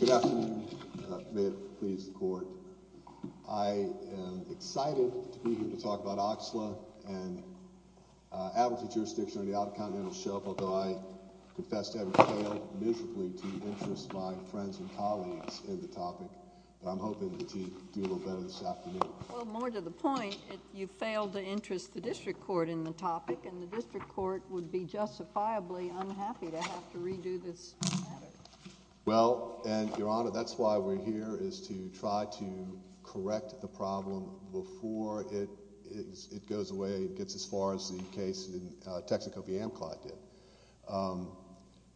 Good afternoon. May it please the court. I am excited to be here to talk about this case.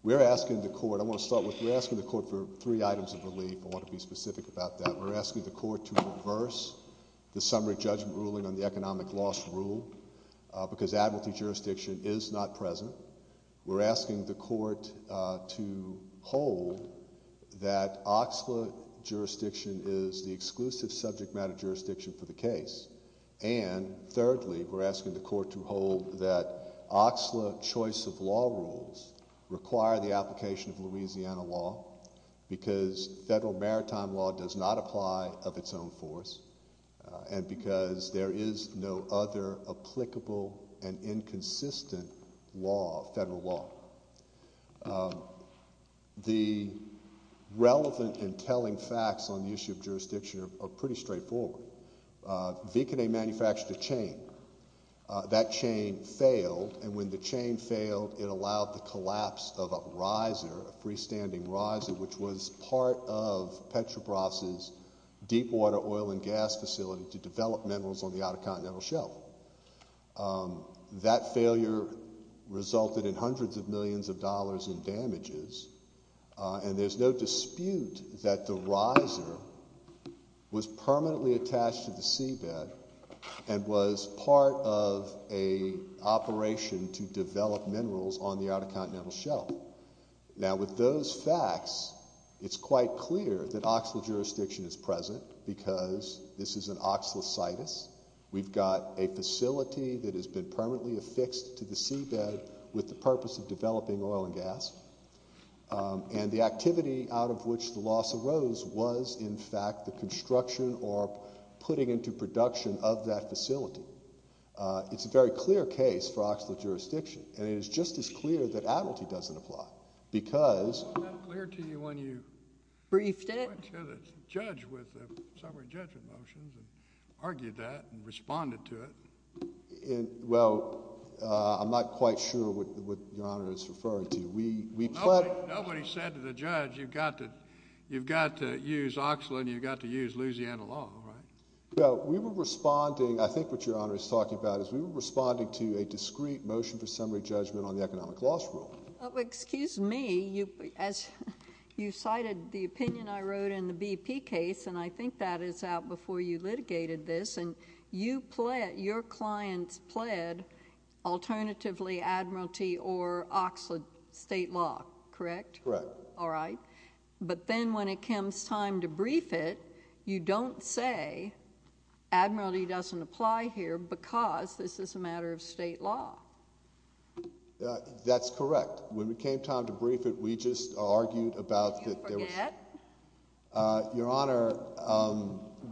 We are asking the court to reverse the summary judgment ruling on the economic loss rule because admiralty jurisdiction is not present. We are asking the court to hold that OXLA jurisdiction is the exclusive subject matter jurisdiction for the case. And thirdly we are asking the court to hold that OXLA choice of law rules require the application of Louisiana law because federal maritime law does not apply of its own force and because there is no other applicable and inconsistent law, federal law. The relevant and telling That chain failed and when the chain failed it allowed the collapse of a riser, a freestanding riser which was part of Petrobras' deep water oil and gas facility to develop minerals on the outer continental shelf. That failure resulted in hundreds of millions of dollars in damages and there is no dispute that the riser was permanently attached to the seabed and was part of an operation to develop minerals on the outer continental shelf. Now with those facts it's quite clear that OXLA jurisdiction is present because this is an OXLA situs. We've got a facility that has been permanently affixed to the seabed with the purpose of developing oil and gas and the activity out of which the loss arose was in fact the construction or putting into production of that facility. It's a very clear case for OXLA jurisdiction and it is just as clear that Admiralty doesn't apply because Wasn't that clear to you when you Briefed it? Went to the judge with the summary judgment motions and argued that and responded to it? Well, I'm not quite sure what Your Honor is referring to. Nobody said to the judge you've got to use OXLA and you've got to use Louisiana law. We were responding, I think what Your Honor is talking about is we were responding to a discreet motion for summary judgment on the economic loss rule. Excuse me, you cited the opinion I wrote in the BP case and I think that is out before you litigated this and you pled, your clients pled alternatively Admiralty or OXLA state law, correct? Correct. All right. But then when it comes time to brief it, you don't say Admiralty doesn't apply here because this is a matter of state law. That's correct. When it came time to brief it, we just argued about that there was Did you forget? Your Honor,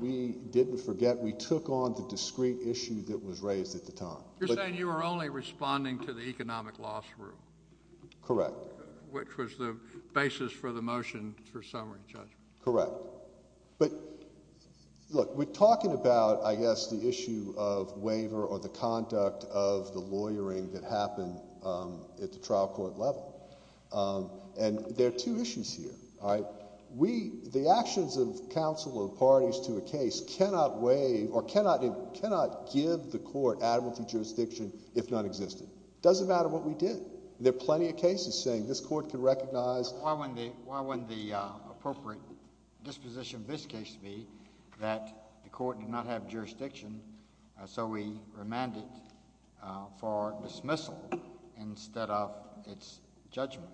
we didn't forget, we took on the discreet issue that was raised at the time. You're saying you were only responding to the economic loss rule? Correct. Which was the basis for the motion for summary judgment? Correct. But look, we're talking about, I guess, the issue of waiver or the conduct of the lawyering that happened at the trial court level and there are two issues here, all right? The actions of counsel or parties to a case cannot waive or cannot give the court Admiralty jurisdiction if none existed. It doesn't matter what we did. There are plenty of cases saying this court can recognize Why wouldn't the appropriate disposition of this case be that the court did not have jurisdiction so we remanded for dismissal instead of its judgment?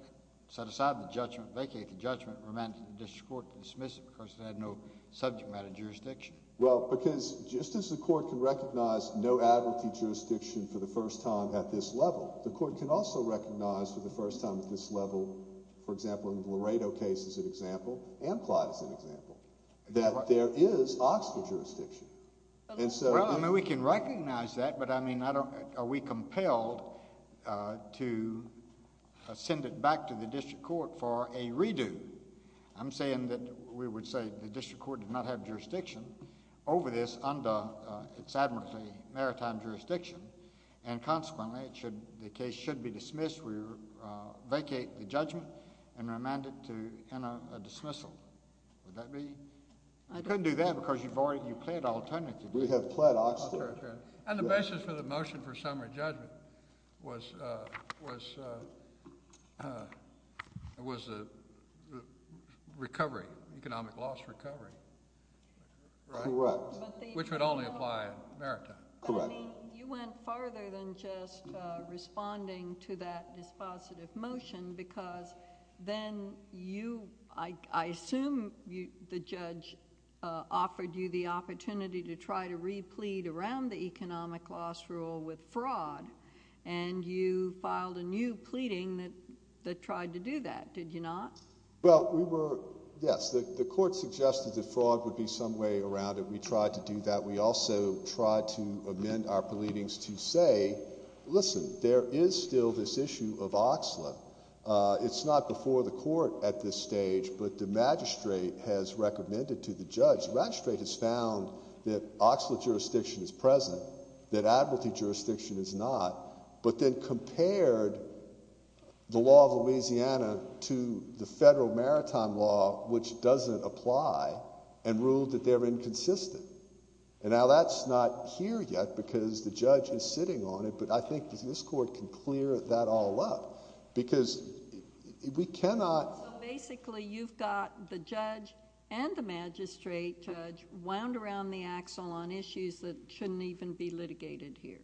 Set aside the judgment, vacate the judgment, remanded the district court to dismiss it because it had no subject matter jurisdiction. Well, because just as the court can recognize no Admiralty jurisdiction for the first time at this level, the court can also recognize for the first time at this level, for example, in the Laredo case as an example and Clyde as an example, that there is Oxford jurisdiction. Well, I mean, we can recognize that, but I mean, are we compelled to send it back to the district court for a redo? I'm saying that we would say the district court did not have jurisdiction over this under its Admiralty maritime jurisdiction. And consequently, it should the case should be dismissed. We vacate the judgment and remanded to a dismissal. Would that be I couldn't do that because you've already you played alternative. We have played Oxford. And the basis for the motion for summary judgment was was was a recovery. Economic loss recovery. Correct. Which would only apply maritime. Correct. You went farther than just responding to that dispositive motion because then you I assume the judge offered you the opportunity to try to replete around the economic loss rule with fraud. And you filed a new pleading that tried to do that. Did you not? Well, we were. Yes. The court suggested that fraud would be some way around it. We tried to do that. We also tried to amend our pleadings to say, listen, there is still this issue of Oxford. It's not before the court at this stage, but the magistrate has recommended to the judge. The magistrate has found that Oxford jurisdiction is present, that advocacy jurisdiction is not. But then compared the law of Louisiana to the federal maritime law, which doesn't apply and ruled that they're inconsistent. And now that's not here yet because the judge is sitting on it. But I think this court can clear that all up because we cannot. Basically, you've got the judge and the magistrate judge wound around the axle on issues that shouldn't even be litigated here.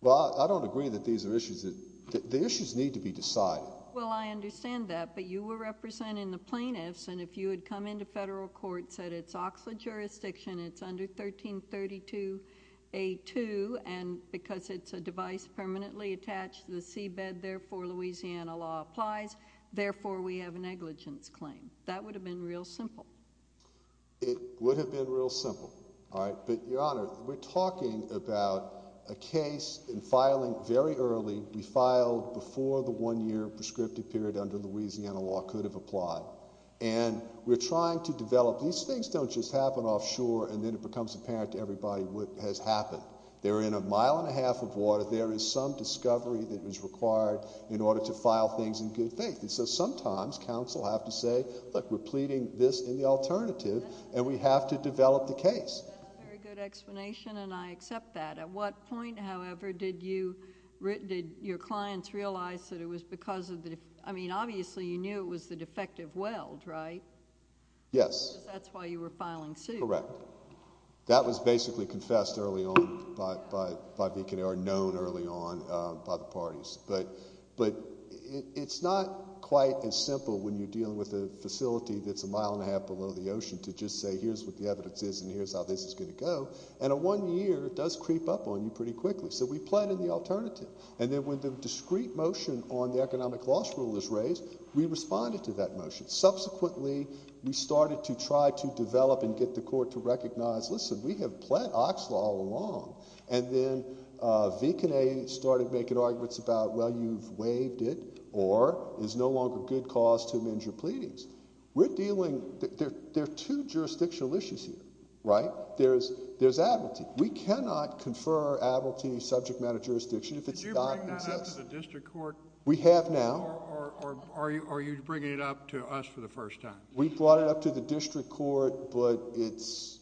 Well, I don't agree that these are issues that the issues need to be decided. Well, I understand that. But you were representing the plaintiffs. And if you had come into federal court, said it's Oxford jurisdiction, it's under 1332A2. And because it's a device permanently attached to the seabed, therefore, Louisiana law applies. Therefore, we have a negligence claim. That would have been real simple. It would have been real simple. All right. But, Your Honor, we're talking about a case in filing very early. We filed before the one-year prescriptive period under Louisiana law could have applied. And we're trying to develop. These things don't just happen offshore and then it becomes apparent to everybody what has happened. They're in a mile and a half of water. There is some discovery that is required in order to file things in good faith. And so sometimes counsel have to say, look, we're pleading this in the alternative, and we have to develop the case. That's a very good explanation, and I accept that. At what point, however, did you, did your clients realize that it was because of the, I mean, obviously you knew it was the defective weld, right? Yes. Because that's why you were filing suit. Correct. That was basically confessed early on by, or known early on by the parties. But it's not quite as simple when you're dealing with a facility that's a mile and a half below the ocean to just say here's what the evidence is and here's how this is going to go. And in one year, it does creep up on you pretty quickly. So we plead in the alternative. And then when the discrete motion on the economic loss rule is raised, we responded to that motion. Subsequently, we started to try to develop and get the court to recognize, listen, we have pled Oxlaw all along. And then Vic and I started making arguments about, well, you've waived it or it's no longer good cause to amend your pleadings. We're dealing, there are two jurisdictional issues here, right? There's Abiltee. We cannot confer Abiltee subject matter jurisdiction if it's not consistent. Did you bring that up to the district court? We have now. Or are you bringing it up to us for the first time? We brought it up to the district court, but it's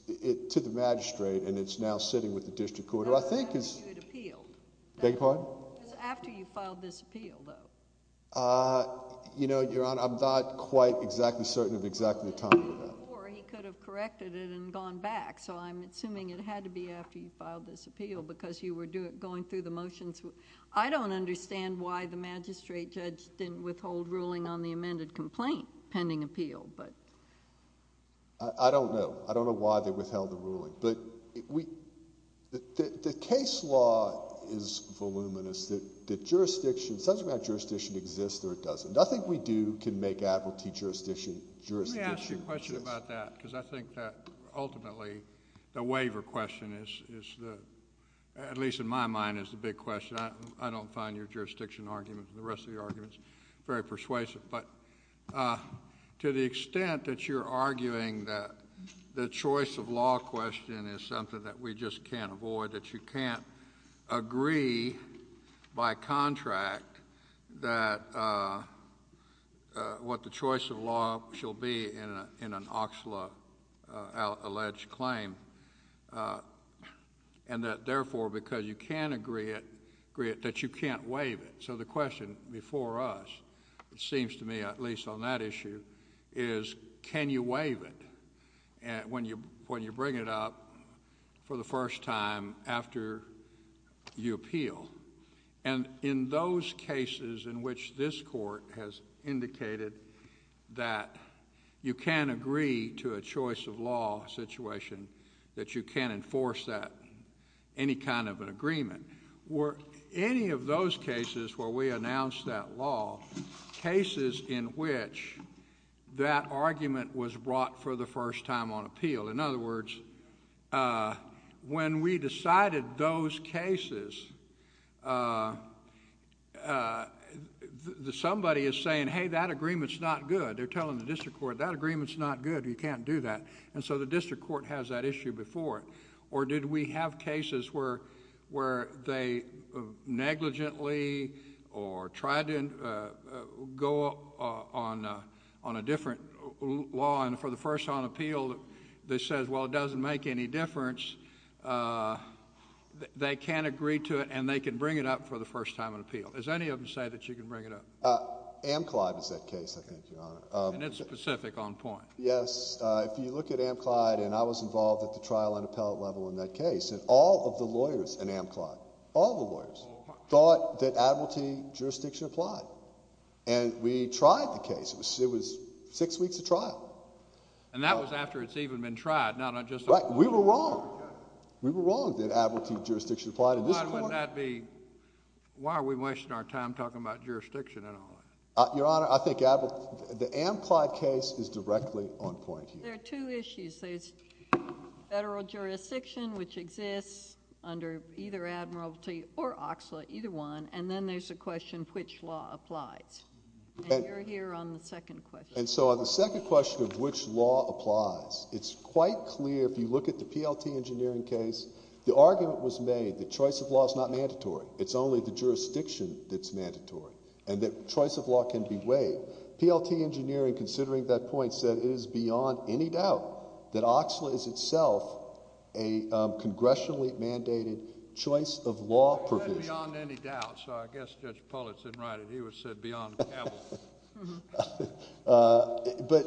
to the magistrate and it's now sitting with the district court. I thought you had appealed. Beg your pardon? It was after you filed this appeal, though. You know, Your Honor, I'm not quite exactly certain of exactly the time. Or he could have corrected it and gone back. So I'm assuming it had to be after you filed this appeal because you were going through the motions. I don't understand why the magistrate judge didn't withhold ruling on the amended complaint pending appeal. I don't know. I don't know why they withheld the ruling. But the case law is voluminous that jurisdiction, subject matter jurisdiction exists or it doesn't. Nothing we do can make Abiltee jurisdiction jurisdiction. Let me ask you a question about that because I think that ultimately the waiver question is, at least in my mind, is the big question. I don't find your jurisdiction argument and the rest of your arguments very persuasive. But to the extent that you're arguing that the choice of law question is something that we just can't avoid, that you can't agree by contract that what the choice of law shall be in an Oxla alleged claim, and that therefore because you can't agree it, that you can't waive it. So the question before us, it seems to me at least on that issue, is can you waive it when you bring it up for the first time after you appeal? And in those cases in which this court has indicated that you can't agree to a choice of law situation, that you can't enforce that, any kind of an agreement. Were any of those cases where we announced that law cases in which that argument was brought for the first time on appeal? In other words, when we decided those cases, somebody is saying, hey, that agreement's not good. They're telling the district court, that agreement's not good. You can't do that. And so the district court has that issue before it. Or did we have cases where they negligently or tried to go on a different law, and for the first time on appeal, they said, well, it doesn't make any difference. They can't agree to it, and they can bring it up for the first time on appeal. Does any of them say that you can bring it up? Amclyde is that case, I think, Your Honor. And it's specific on point. Yes. If you look at Amclyde, and I was involved at the trial and appellate level in that case, and all of the lawyers in Amclyde, all the lawyers, thought that admiralty jurisdiction applied. And we tried the case. It was six weeks of trial. And that was after it's even been tried, not just on appeal. Right. We were wrong. We were wrong that admiralty jurisdiction applied in this court. Why would that be? Why are we wasting our time talking about jurisdiction and all that? Your Honor, I think the Amclyde case is directly on point here. There are two issues. There's federal jurisdiction, which exists under either admiralty or oxalate, either one, and then there's the question of which law applies. And you're here on the second question. And so on the second question of which law applies, it's quite clear if you look at the PLT engineering case, the argument was made that choice of law is not mandatory. It's only the jurisdiction that's mandatory. And that choice of law can be weighed. PLT engineering, considering that point, said it is beyond any doubt that oxalate is itself a congressionally mandated choice of law provision. It said beyond any doubt. So I guess Judge Pulitz didn't write it. He would have said beyond capital. But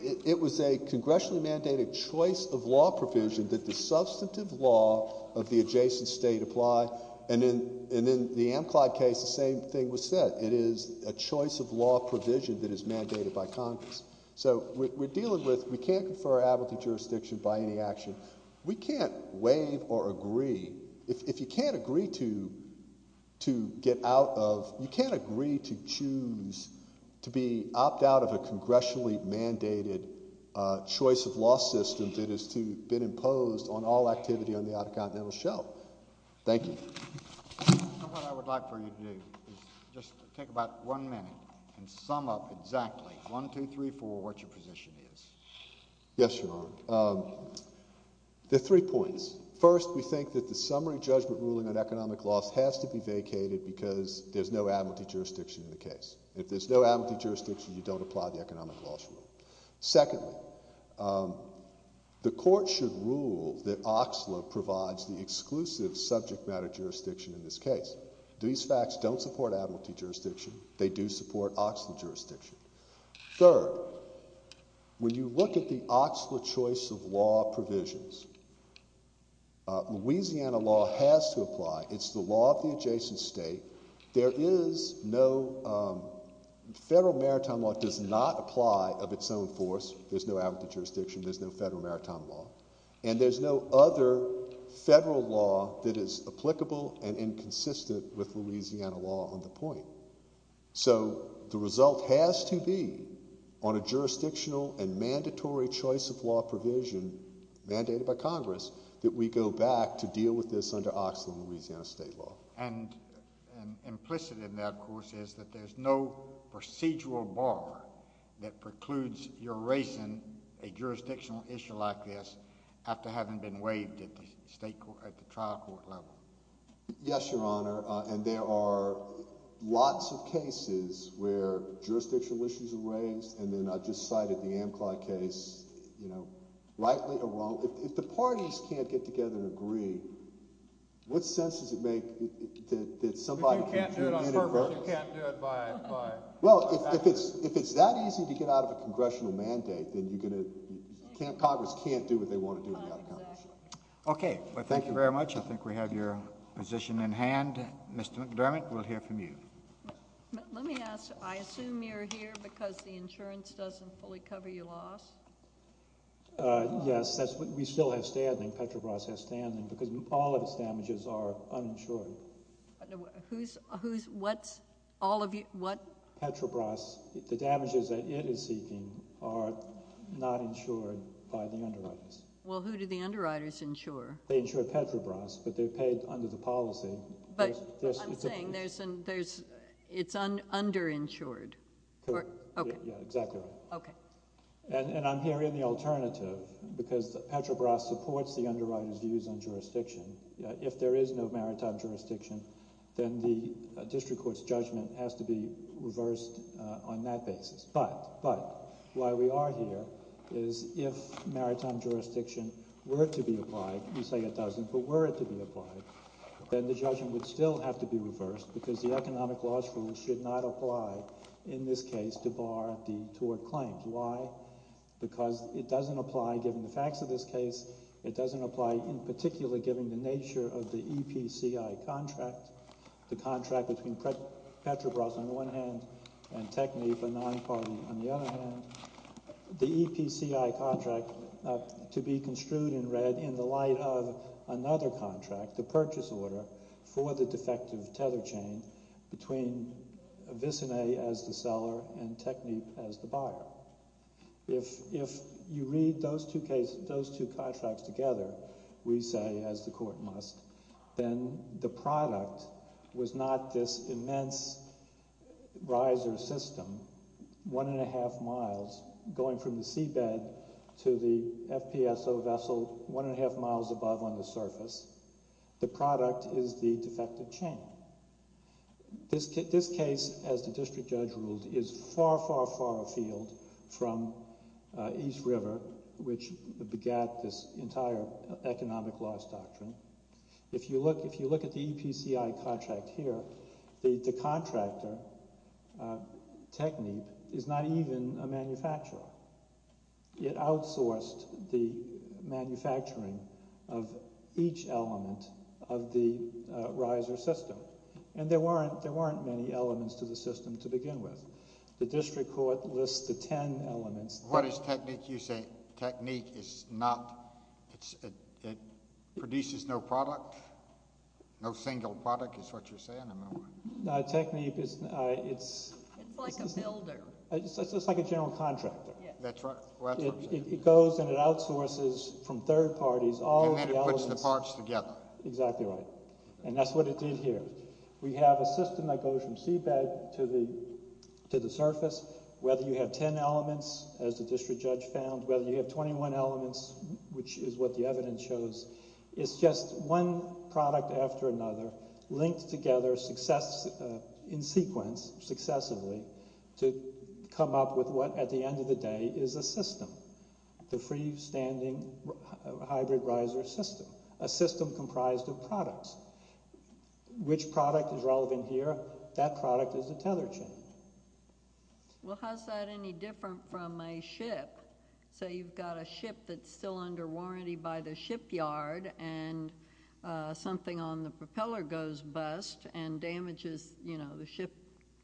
it was a congressionally mandated choice of law provision that the substantive law of the adjacent state apply. And in the Amclyde case, the same thing was said. It is a choice of law provision that is mandated by Congress. So we're dealing with we can't confer our admiralty jurisdiction by any action. We can't waive or agree. If you can't agree to get out of, you can't agree to choose to be opt out of a congressionally mandated choice of law system that has been imposed on all activity on the Outer Continental Shelf. Thank you. And what I would like for you to do is just take about one minute and sum up exactly, one, two, three, four, what your position is. Yes, Your Honor. There are three points. First, we think that the summary judgment ruling on economic loss has to be vacated because there's no admiralty jurisdiction in the case. If there's no admiralty jurisdiction, you don't apply the economic loss rule. Secondly, the court should rule that OXLA provides the exclusive subject matter jurisdiction in this case. These facts don't support admiralty jurisdiction. They do support OXLA jurisdiction. Third, when you look at the OXLA choice of law provisions, Louisiana law has to apply. It's the law of the adjacent state. There is no federal maritime law does not apply of its own force. There's no admiralty jurisdiction. There's no federal maritime law. And there's no other federal law that is applicable and inconsistent with Louisiana law on the point. So the result has to be on a jurisdictional and mandatory choice of law provision mandated by Congress that we go back to deal with this under OXLA and Louisiana state law. And implicit in that, of course, is that there's no procedural bar that precludes your raising a jurisdictional issue like this after having been waived at the trial court level. Yes, Your Honor, and there are lots of cases where jurisdictional issues are raised, and then I just cited the Amcly case, you know, rightly or wrongly. Well, if the parties can't get together and agree, what sense does it make that somebody can't do it in adverse? If you can't do it on purpose, you can't do it by action. Well, if it's that easy to get out of a congressional mandate, then Congress can't do what they want to do without Congress. Okay, well, thank you very much. I think we have your position in hand. Mr. McDermott, we'll hear from you. Let me ask. I assume you're here because the insurance doesn't fully cover your loss. Yes, we still have standing. Petrobras has standing because all of its damages are uninsured. Who's, what's, all of you, what? Petrobras, the damages that it is seeking are not insured by the underwriters. Well, who do the underwriters insure? They insure Petrobras, but they're paid under the policy. But I'm saying it's underinsured. Correct. Okay. Yeah, exactly right. Okay. And I'm here in the alternative because Petrobras supports the underwriters' views on jurisdiction. If there is no maritime jurisdiction, then the district court's judgment has to be reversed on that basis. But why we are here is if maritime jurisdiction were to be applied, you say it doesn't, but were it to be applied, then the judgment would still have to be reversed because the economic loss rule should not apply in this case to bar the tort claims. Why? Because it doesn't apply given the facts of this case. It doesn't apply in particular given the nature of the EPCI contract, the contract between Petrobras on the one hand and TECME, the non-party, on the other hand. The EPCI contract to be construed in red in the light of another contract, the purchase order for the defective tether chain between Visine as the seller and TECME as the buyer. If you read those two contracts together, we say, as the court must, then the product was not this immense riser system, one and a half miles going from the seabed to the FPSO vessel one and a half miles above on the surface. The product is the defective chain. This case, as the district judge ruled, is far, far, far afield from East River which begat this entire economic loss doctrine. If you look at the EPCI contract here, the contractor, TECME, is not even a manufacturer. It outsourced the manufacturing of each element of the riser system. And there weren't many elements to the system to begin with. The district court lists the ten elements. What is TECME? You say TECME produces no product? No single product is what you're saying, am I right? No, TECME is… It's like a builder. It's like a general contractor. That's right. It goes and it outsources from third parties all the elements. And then it puts the parts together. Exactly right. And that's what it did here. We have a system that goes from seabed to the surface. Whether you have ten elements, as the district judge found, whether you have 21 elements, which is what the evidence shows, it's just one product after another linked together in sequence successively to come up with what at the end of the day is a system, the freestanding hybrid riser system, a system comprised of products. Which product is relevant here? That product is a tether chain. Well, how's that any different from a ship? Say you've got a ship that's still under warranty by the shipyard and something on the propeller goes bust and damages, you know, the ship.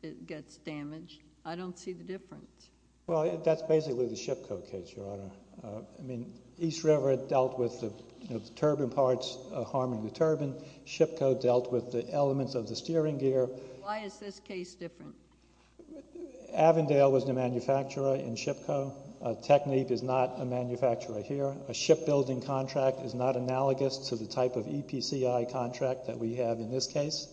It gets damaged. I don't see the difference. Well, that's basically the ship code case, Your Honor. I mean, East River dealt with the turbine parts harming the turbine. Ship code dealt with the elements of the steering gear. Why is this case different? Avondale was the manufacturer in ship code. Technique is not a manufacturer here. A shipbuilding contract is not analogous to the type of EPCI contract that we have in this case.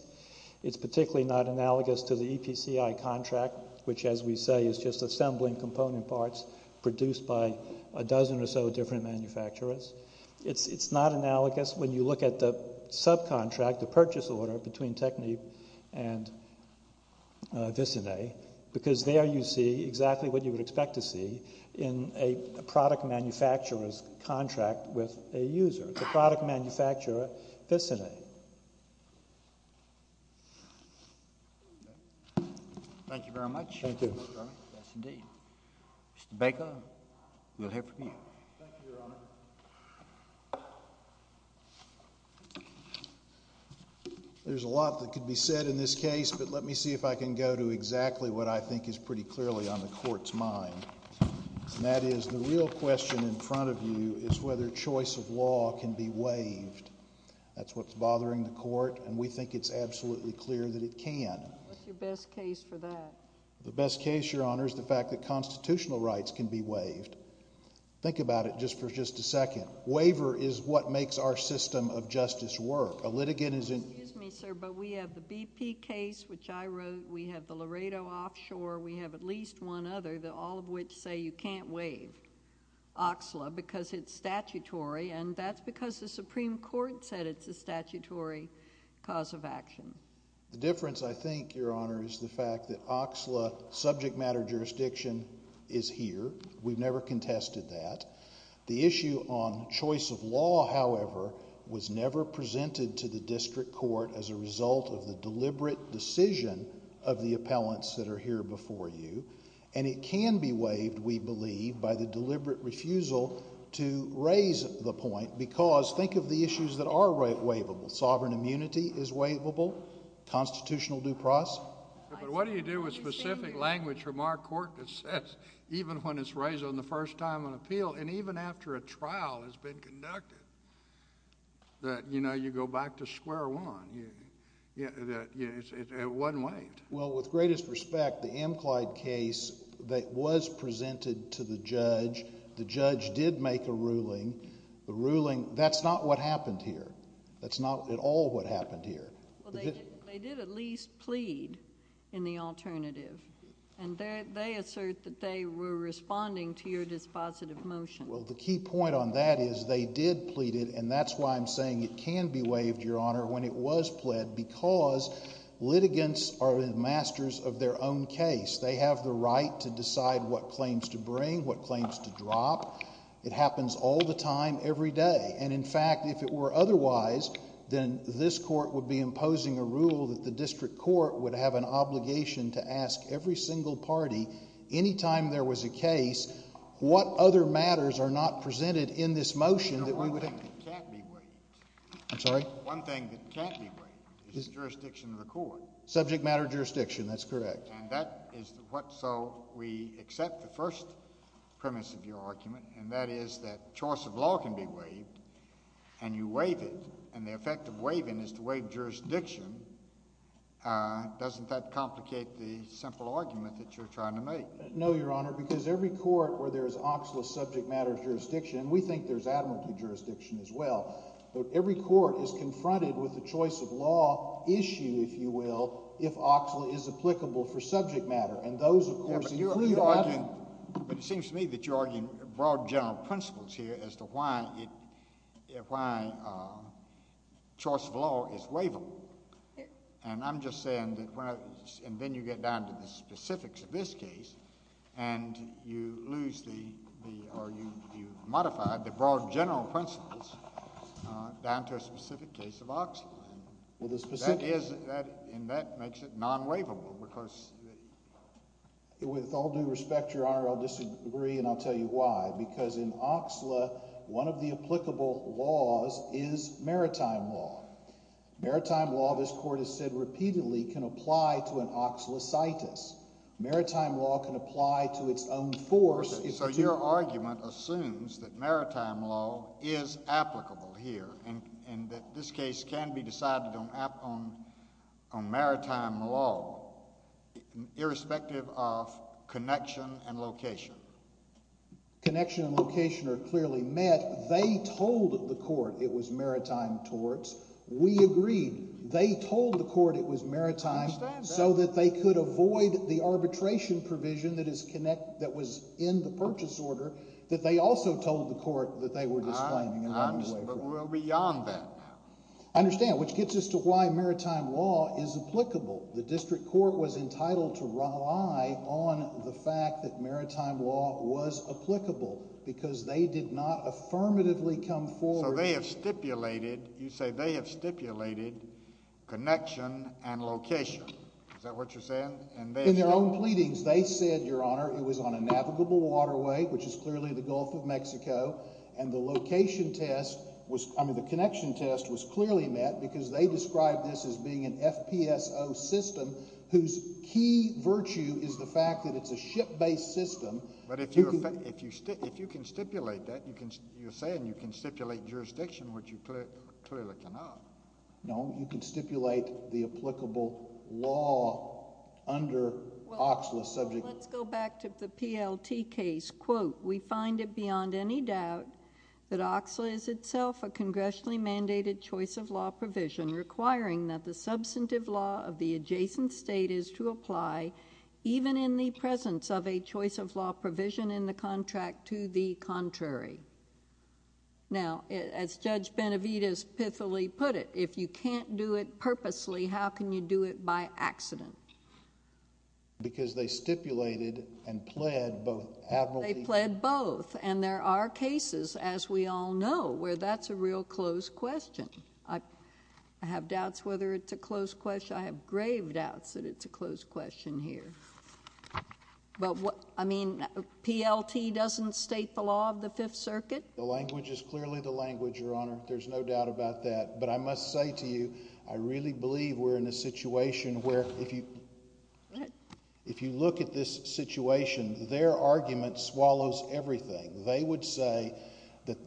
It's particularly not analogous to the EPCI contract, which, as we say, is just assembling component parts produced by a dozen or so different manufacturers. It's not analogous. That's when you look at the subcontract, the purchase order between Technique and Visine, because there you see exactly what you would expect to see in a product manufacturer's contract with a user, the product manufacturer Visine. Thank you very much. Thank you. Yes, indeed. Mr. Baker, we'll hear from you. Thank you, Your Honor. There's a lot that could be said in this case, but let me see if I can go to exactly what I think is pretty clearly on the Court's mind. And that is the real question in front of you is whether choice of law can be waived. That's what's bothering the Court, and we think it's absolutely clear that it can. What's your best case for that? The best case, Your Honor, is the fact that constitutional rights can be waived. Think about it just for just a second. Waiver is what makes our system of justice work. A litigant is in— Excuse me, sir, but we have the BP case, which I wrote. We have the Laredo offshore. We have at least one other, all of which say you can't waive OXLA because it's statutory, and that's because the Supreme Court said it's a statutory cause of action. The difference, I think, Your Honor, is the fact that OXLA subject matter jurisdiction is here. We've never contested that. The issue on choice of law, however, was never presented to the district court as a result of the deliberate decision of the appellants that are here before you. And it can be waived, we believe, by the deliberate refusal to raise the point because think of the issues that are waivable. Sovereign immunity is waivable. Constitutional due process. But what do you do with specific language from our court that says even when it's raised on the first time on appeal and even after a trial has been conducted that, you know, you go back to square one, that it wasn't waived? Well, with greatest respect, the Amclyde case was presented to the judge. The judge did make a ruling. The ruling—that's not what happened here. That's not at all what happened here. Well, they did at least plead in the alternative. And they assert that they were responding to your dispositive motion. Well, the key point on that is they did plead it, and that's why I'm saying it can be waived, Your Honor, when it was pled because litigants are masters of their own case. They have the right to decide what claims to bring, what claims to drop. It happens all the time, every day. And, in fact, if it were otherwise, then this court would be imposing a rule that the district court would have an obligation to ask every single party any time there was a case what other matters are not presented in this motion that we would— One thing that can't be waived. I'm sorry? One thing that can't be waived is jurisdiction of the court. Subject matter jurisdiction. That's correct. And that is what—so we accept the first premise of your argument, and that is that choice of law can be waived, and you waive it. And the effect of waiving is to waive jurisdiction. Doesn't that complicate the simple argument that you're trying to make? No, Your Honor, because every court where there is OXLA subject matter jurisdiction—and we think there's admiralty jurisdiction as well—but every court is confronted with a choice of law issue, if you will, if OXLA is applicable for subject matter. And those, of course, include— But it seems to me that you're arguing broad general principles here as to why choice of law is waivable. And I'm just saying that—and then you get down to the specifics of this case, and you lose the—or you modify the broad general principles down to a specific case of OXLA. Well, the specific— That is—and that makes it non-waivable because— With all due respect, Your Honor, I'll disagree, and I'll tell you why. Because in OXLA, one of the applicable laws is maritime law. Maritime law, this Court has said repeatedly, can apply to an oxlocytis. Maritime law can apply to its own force— Your argument assumes that maritime law is applicable here and that this case can be decided on maritime law, irrespective of connection and location. Connection and location are clearly met. They told the court it was maritime torts. We agreed. They told the court it was maritime— I understand that. —so that they could avoid the arbitration provision that is connect—that was in the purchase order that they also told the court that they were disclaiming and running away from. But we're beyond that now. I understand, which gets us to why maritime law is applicable. The district court was entitled to rely on the fact that maritime law was applicable because they did not affirmatively come forward— So they have stipulated—you say they have stipulated connection and location. Is that what you're saying? In their own pleadings, they said, Your Honor, it was on a navigable waterway, which is clearly the Gulf of Mexico, and the location test was—I mean, the connection test was clearly met because they described this as being an FPSO system whose key virtue is the fact that it's a ship-based system. But if you can stipulate that, you're saying you can stipulate jurisdiction, which you clearly cannot. No, you can stipulate the applicable law under OXLA subject— to the contrary. Now, as Judge Benavides pithily put it, if you can't do it purposely, how can you do it by accident? Because they stipulated and pled both— They pled both, and there are cases, as we all know, where that's a real close question. I have doubts whether it's a close question. I have grave doubts that it's a close question here. But what—I mean, PLT doesn't state the law of the Fifth Circuit? The language is clearly the language, Your Honor. There's no doubt about that. But I must say to you, I really believe we're in a situation where, if you look at this situation, their argument swallows everything. They would say that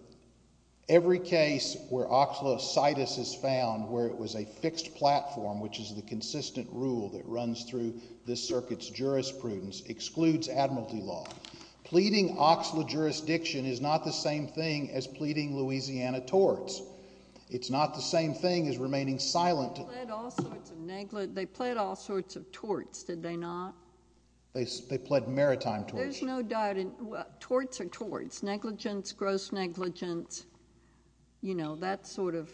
every case where OXLA-CITUS is found, where it was a fixed platform, which is the consistent rule that runs through this circuit's jurisprudence, excludes admiralty law. Pleading OXLA jurisdiction is not the same thing as pleading Louisiana torts. It's not the same thing as remaining silent. They pled all sorts of neglig—they pled all sorts of torts, did they not? They pled maritime torts. There's no doubt in—well, torts are torts. Negligence, gross negligence, you know, that sort of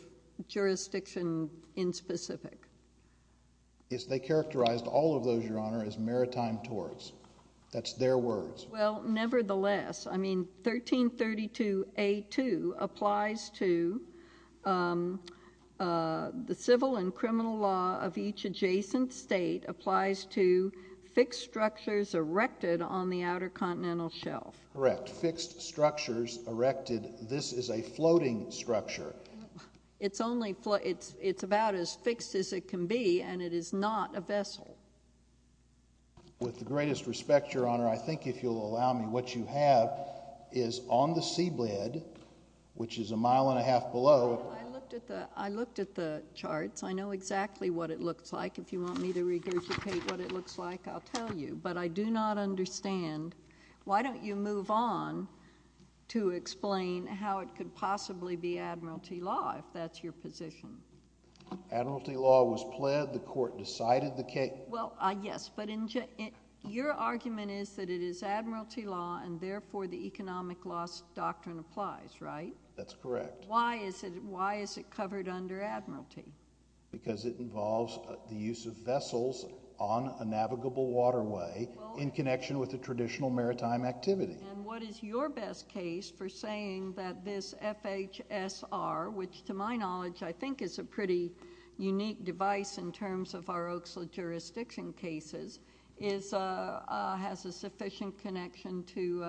jurisdiction in specific. Yes, they characterized all of those, Your Honor, as maritime torts. That's their words. Well, nevertheless, I mean, 1332A2 applies to the civil and criminal law of each adjacent state applies to fixed structures erected on the outer continental shelf. Correct. Fixed structures erected. This is a floating structure. It's only—it's about as fixed as it can be, and it is not a vessel. With the greatest respect, Your Honor, I think if you'll allow me, what you have is on the seabed, which is a mile and a half below— I looked at the charts. I know exactly what it looks like. If you want me to regurgitate what it looks like, I'll tell you. But I do not understand. Why don't you move on to explain how it could possibly be admiralty law, if that's your position? Admiralty law was pled. The court decided the case. Well, yes, but your argument is that it is admiralty law, and therefore the economic loss doctrine applies, right? That's correct. Why is it covered under admiralty? Because it involves the use of vessels on a navigable waterway in connection with a traditional maritime activity. And what is your best case for saying that this FHSR, which to my knowledge I think is a pretty unique device in terms of our Oaks jurisdiction cases, has a sufficient connection to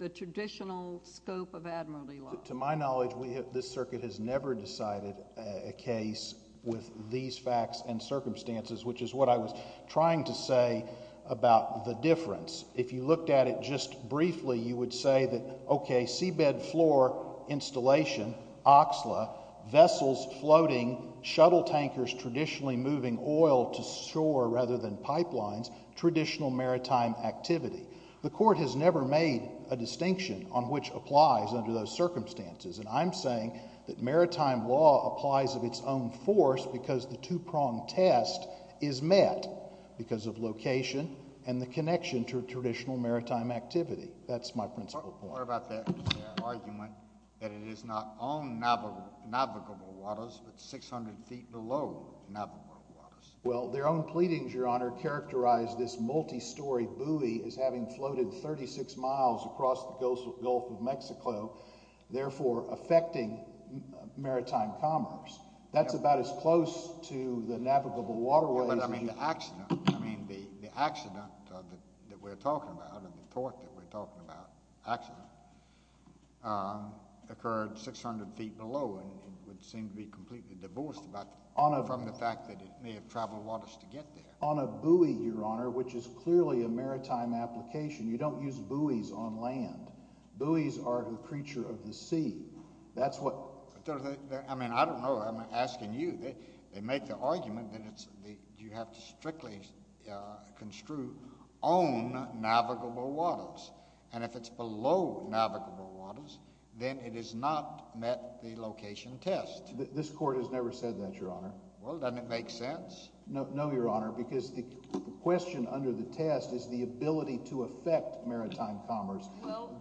the traditional scope of admiralty law? To my knowledge, this circuit has never decided a case with these facts and circumstances, which is what I was trying to say about the difference. If you looked at it just briefly, you would say that, okay, seabed floor installation, oxla, vessels floating, shuttle tankers traditionally moving oil to shore rather than pipelines, traditional maritime activity. The court has never made a distinction on which applies under those circumstances. And I'm saying that maritime law applies of its own force because the two-pronged test is met because of location and the connection to traditional maritime activity. That's my principle point. What about their argument that it is not on navigable waters but 600 feet below navigable waters? Well, their own pleadings, Your Honor, characterize this multi-story buoy as having floated 36 miles across the Gulf of Mexico, therefore affecting maritime commerce. That's about as close to the navigable waterways as you can get. But, I mean, the accident that we're talking about and the tort that we're talking about actually occurred 600 feet below, and it would seem to be completely divorced from the fact that it may have traveled waters to get there. On a buoy, Your Honor, which is clearly a maritime application, you don't use buoys on land. Buoys are the creature of the sea. That's what— I mean, I don't know. I'm asking you. They make the argument that you have to strictly construe on navigable waters. And if it's below navigable waters, then it is not met the location test. This court has never said that, Your Honor. Well, doesn't it make sense? No, Your Honor, because the question under the test is the ability to affect maritime commerce. Well,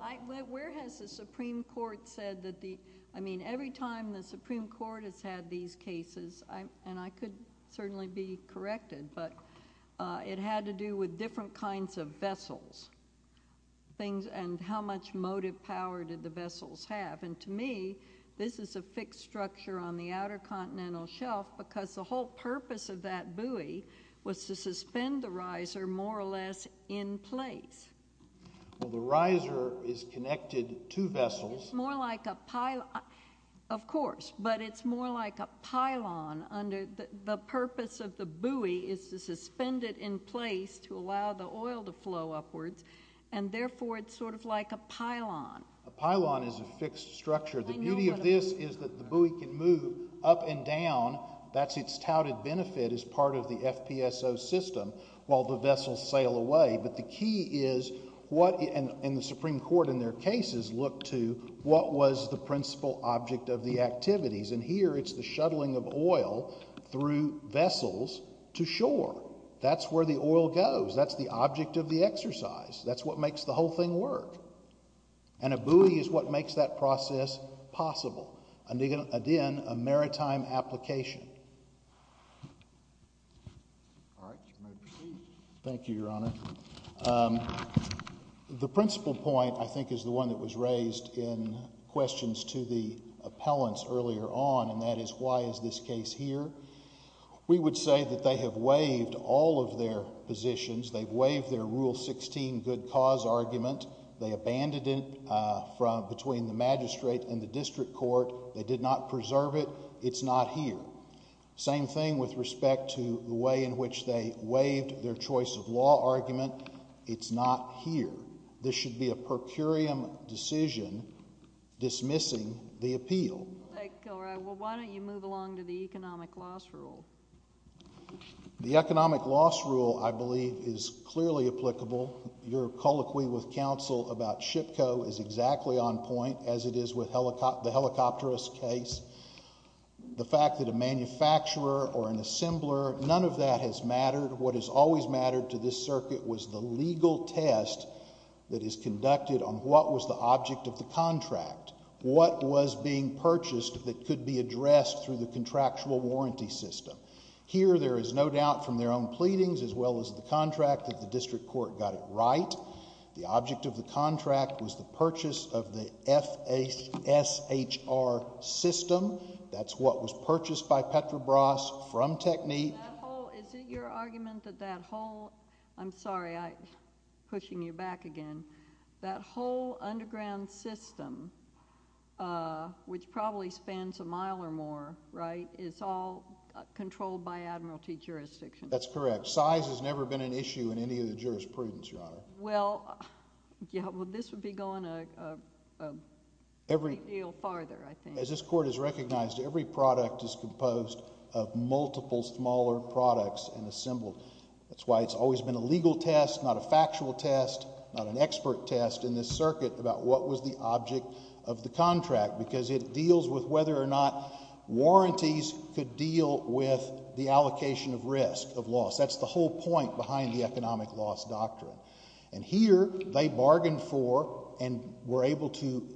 where has the Supreme Court said that the—I mean, every time the Supreme Court has had these cases, and I could certainly be corrected, but it had to do with different kinds of vessels, and how much motive power did the vessels have. And to me, this is a fixed structure on the outer continental shelf because the whole purpose of that buoy was to suspend the riser more or less in place. Well, the riser is connected to vessels. It's more like a—of course, but it's more like a pylon. The purpose of the buoy is to suspend it in place to allow the oil to flow upwards, and therefore it's sort of like a pylon. A pylon is a fixed structure. The beauty of this is that the buoy can move up and down. That's its touted benefit as part of the FPSO system while the vessels sail away. But the key is what—and the Supreme Court in their cases looked to what was the principal object of the activities. And here it's the shuttling of oil through vessels to shore. That's where the oil goes. That's the object of the exercise. That's what makes the whole thing work. And a buoy is what makes that process possible. Again, a maritime application. All right. Your motion, please. Thank you, Your Honor. The principal point, I think, is the one that was raised in questions to the appellants earlier on, and that is why is this case here? We would say that they have waived all of their positions. They've waived their Rule 16 good cause argument. They abandoned it between the magistrate and the district court. They did not preserve it. It's not here. Same thing with respect to the way in which they waived their choice of law argument. It's not here. This should be a per curiam decision dismissing the appeal. All right. Well, why don't you move along to the economic loss rule? The economic loss rule, I believe, is clearly applicable. Your colloquy with counsel about SHPCO is exactly on point as it is with the helicopterist case. The fact that a manufacturer or an assembler, none of that has mattered. What has always mattered to this circuit was the legal test that is conducted on what was the object of the contract, what was being purchased that could be addressed through the contractual warranty system. Here, there is no doubt from their own pleadings as well as the contract that the district court got it right. The object of the contract was the purchase of the FSHR system. That's what was purchased by Petrobras from Technique. Is it your argument that that whole, I'm sorry, I'm pushing you back again, that whole underground system, which probably spans a mile or more, right, is all controlled by admiralty jurisdiction? That's correct. Size has never been an issue in any of the jurisprudence, Your Honor. Well, this would be going a great deal farther, I think. As this court has recognized, every product is composed of multiple smaller products and assembled. That's why it's always been a legal test, not a factual test, not an expert test in this circuit about what was the object of the contract because it deals with whether or not warranties could deal with the allocation of risk of loss. That's the whole point behind the economic loss doctrine. And here, they bargained for and were able to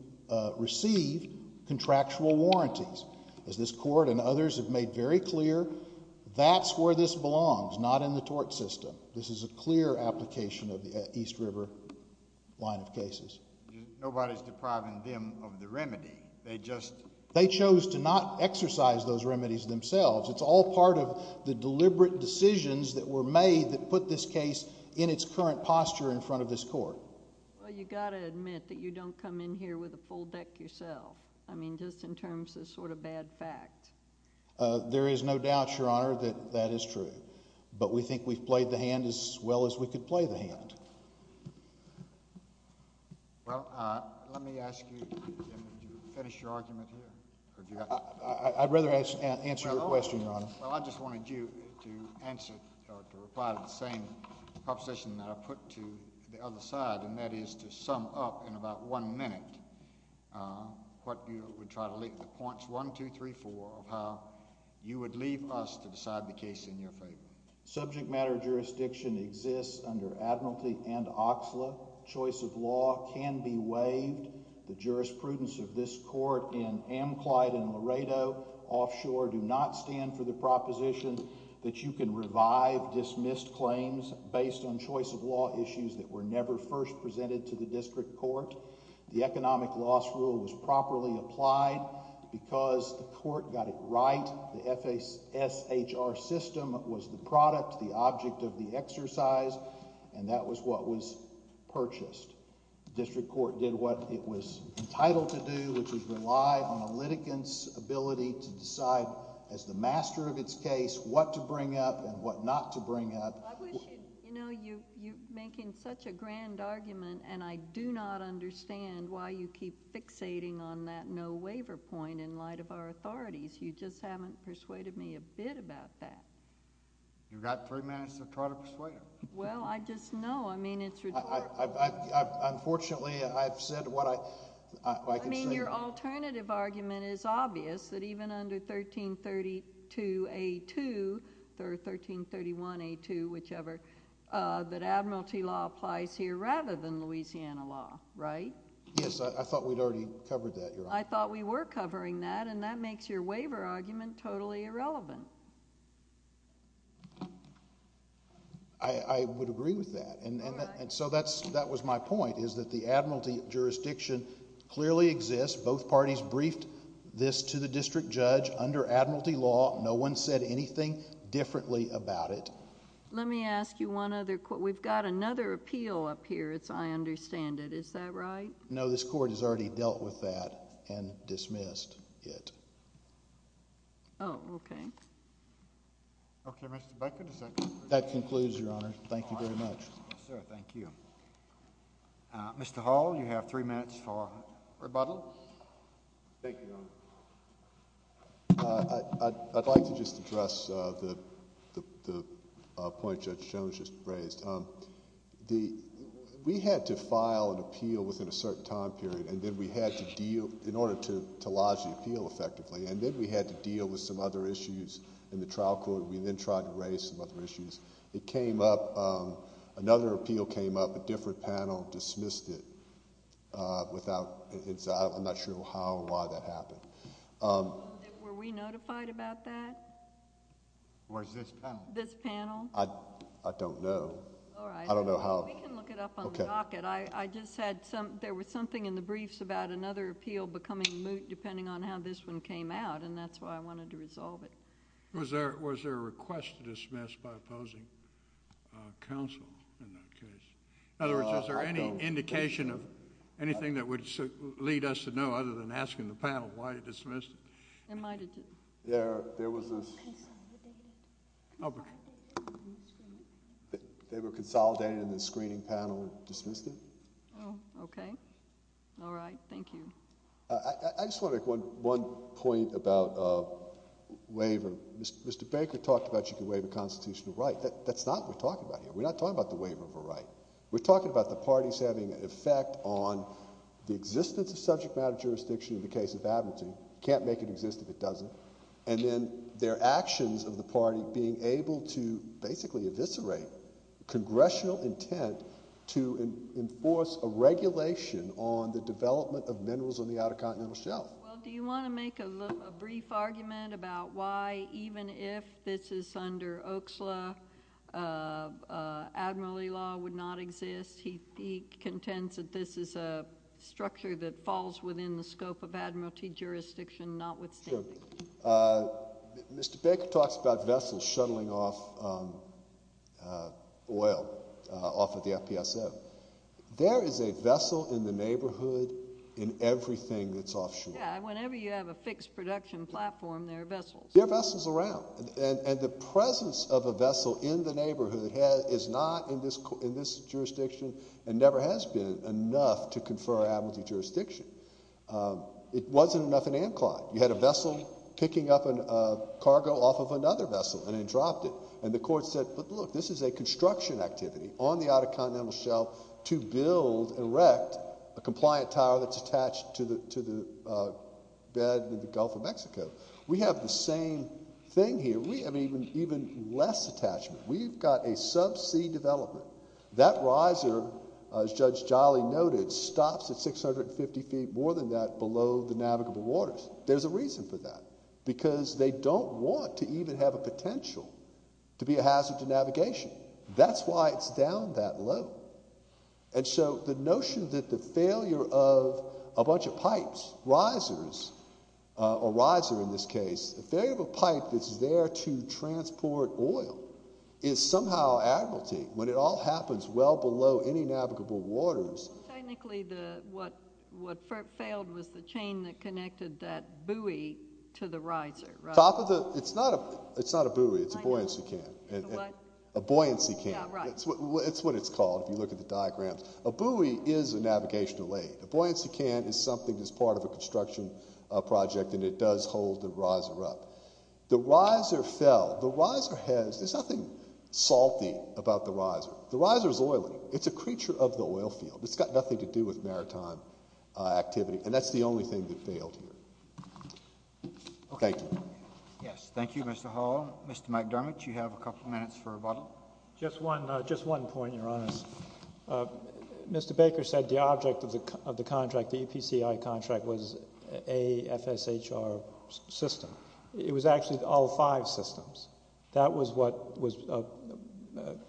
receive contractual warranties. As this court and others have made very clear, that's where this belongs, not in the tort system. This is a clear application of the East River line of cases. Nobody's depriving them of the remedy. They just— They chose to not exercise those remedies themselves. It's all part of the deliberate decisions that were made that put this case in its current posture in front of this court. Well, you've got to admit that you don't come in here with a full deck yourself. I mean, just in terms of sort of bad fact. There is no doubt, Your Honor, that that is true. But we think we've played the hand as well as we could play the hand. Well, let me ask you to finish your argument here. I'd rather answer your question, Your Honor. Well, I just wanted you to answer or to reply to the same proposition that I put to the other side, and that is to sum up in about one minute what you would try to—the points 1, 2, 3, 4 of how you would leave us to decide the case in your favor. Subject matter jurisdiction exists under admiralty and oxla. Choice of law can be waived. The jurisprudence of this court in Amclyde and Laredo offshore do not stand for the proposition that you can revive dismissed claims based on choice of law issues that were never first presented to the district court. The economic loss rule was properly applied because the court got it right. The FSHR system was the product, the object of the exercise, and that was what was purchased. The district court did what it was entitled to do, which is rely on a litigant's ability to decide as the master of its case what to bring up and what not to bring up. I wish you... you know, you're making such a grand argument, and I do not understand why you keep fixating on that no waiver point in light of our authorities. You just haven't persuaded me a bit about that. You've got three minutes to try to persuade him. Well, I just know. I mean, it's... Unfortunately, I've said what I... I mean, your alternative argument is obvious that even under 1332A2 or 1331A2, whichever, that admiralty law applies here rather than Louisiana law, right? Yes, I thought we'd already covered that, Your Honor. I thought we were covering that, and that makes your waiver argument totally irrelevant. I would agree with that, and so that was my point, is that the admiralty jurisdiction clearly exists. Both parties briefed this to the district judge under admiralty law. No one said anything differently about it. Let me ask you one other... we've got another appeal up here, as I understand it. Is that right? No, this court has already dealt with that and dismissed it. Oh, okay. Okay, Mr. Becker, does that conclude... That concludes, Your Honor. Thank you very much. Yes, sir. Thank you. Mr. Hall, you have three minutes for rebuttal. Thank you, Your Honor. I'd like to just address the point Judge Jones just raised. We had to file an appeal within a certain time period, and then we had to deal... in order to lodge the appeal effectively, and then we had to deal with some other issues in the trial court. We then tried to raise some other issues. It came up... another appeal came up. A different panel dismissed it without... I'm not sure how or why that happened. Were we notified about that? Or is this panel? This panel. I don't know. All right. I don't know how... We can look it up on the docket. Okay. I just had some... there was something in the briefs about another appeal becoming moot depending on how this one came out, and that's why I wanted to resolve it. Was there a request to dismiss by opposing counsel in that case? In other words, is there any indication of anything that would lead us to know other than asking the panel why it dismissed it? There might have been. Yeah, there was a... They were consolidated in the screening panel and dismissed it? Oh, okay. All right. Thank you. I just want to make one point about waiver. Mr. Baker talked about you can waive a constitutional right. That's not what we're talking about here. We're not talking about the waiver of a right. We're talking about the parties having an effect on the existence of subject matter jurisdiction in the case of Abbington. You can't make it exist if it doesn't. And then their actions of the party being able to basically eviscerate congressional intent to enforce a regulation on the development of minerals on the Outer Continental Shelf. Well, do you want to make a brief argument about why, even if this is under Oakes law, Admiralty law would not exist? He contends that this is a structure that falls within the scope of Admiralty jurisdiction notwithstanding. Sure. Mr. Baker talks about vessels shuttling off oil off of the FPSO. There is a vessel in the neighborhood in everything that's offshore. Yeah, and whenever you have a fixed production platform, there are vessels. There are vessels around. And the presence of a vessel in the neighborhood is not in this jurisdiction and never has been enough to confer Admiralty jurisdiction. It wasn't enough in Amclon. You had a vessel picking up cargo off of another vessel and it dropped it. And the court said, but look, this is a construction activity on the Outer Continental Shelf to build and erect a compliant tower that's attached to the bed in the Gulf of Mexico. We have the same thing here. We have even less attachment. We've got a subsea development. That riser, as Judge Jolly noted, stops at 650 feet, more than that, below the navigable waters. There's a reason for that because they don't want to even have a potential to be a hazard to navigation. That's why it's down that low. And so the notion that the failure of a bunch of pipes, risers, a riser in this case, the failure of a pipe that's there to transport oil is somehow Admiralty when it all happens well below any navigable waters. Technically what failed was the chain that connected that buoy to the riser. It's not a buoy. It's a buoyancy cam. A buoyancy cam. It's what it's called if you look at the diagrams. A buoy is a navigational aid. A buoyancy cam is something that's part of a construction project and it does hold the riser up. The riser fell. The riser has, there's nothing salty about the riser. The riser is oily. It's a creature of the oil field. It's got nothing to do with maritime activity. And that's the only thing that failed here. Thank you. Yes, thank you, Mr. Hall. Mr. McDermott, you have a couple minutes for rebuttal. Just one point, Your Honor. Mr. Baker said the object of the contract, the EPCI contract, was a FSHR system. It was actually all five systems. That was what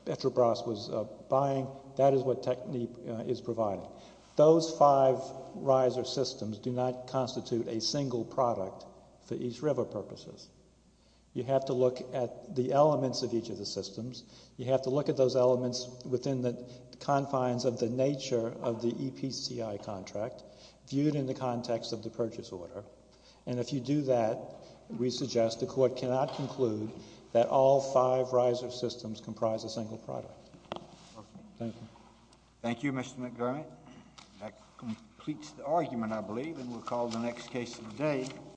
Etrobras was buying. That is what Techneap is providing. Those five riser systems do not constitute a single product for East River purposes. You have to look at the elements of each of the systems. You have to look at those elements within the confines of the nature of the EPCI contract, viewed in the context of the purchase order. And if you do that, we suggest the Court cannot conclude that all five riser systems comprise a single product. Thank you. Thank you, Mr. McDermott. That completes the argument, I believe, and we'll call the next case of the day.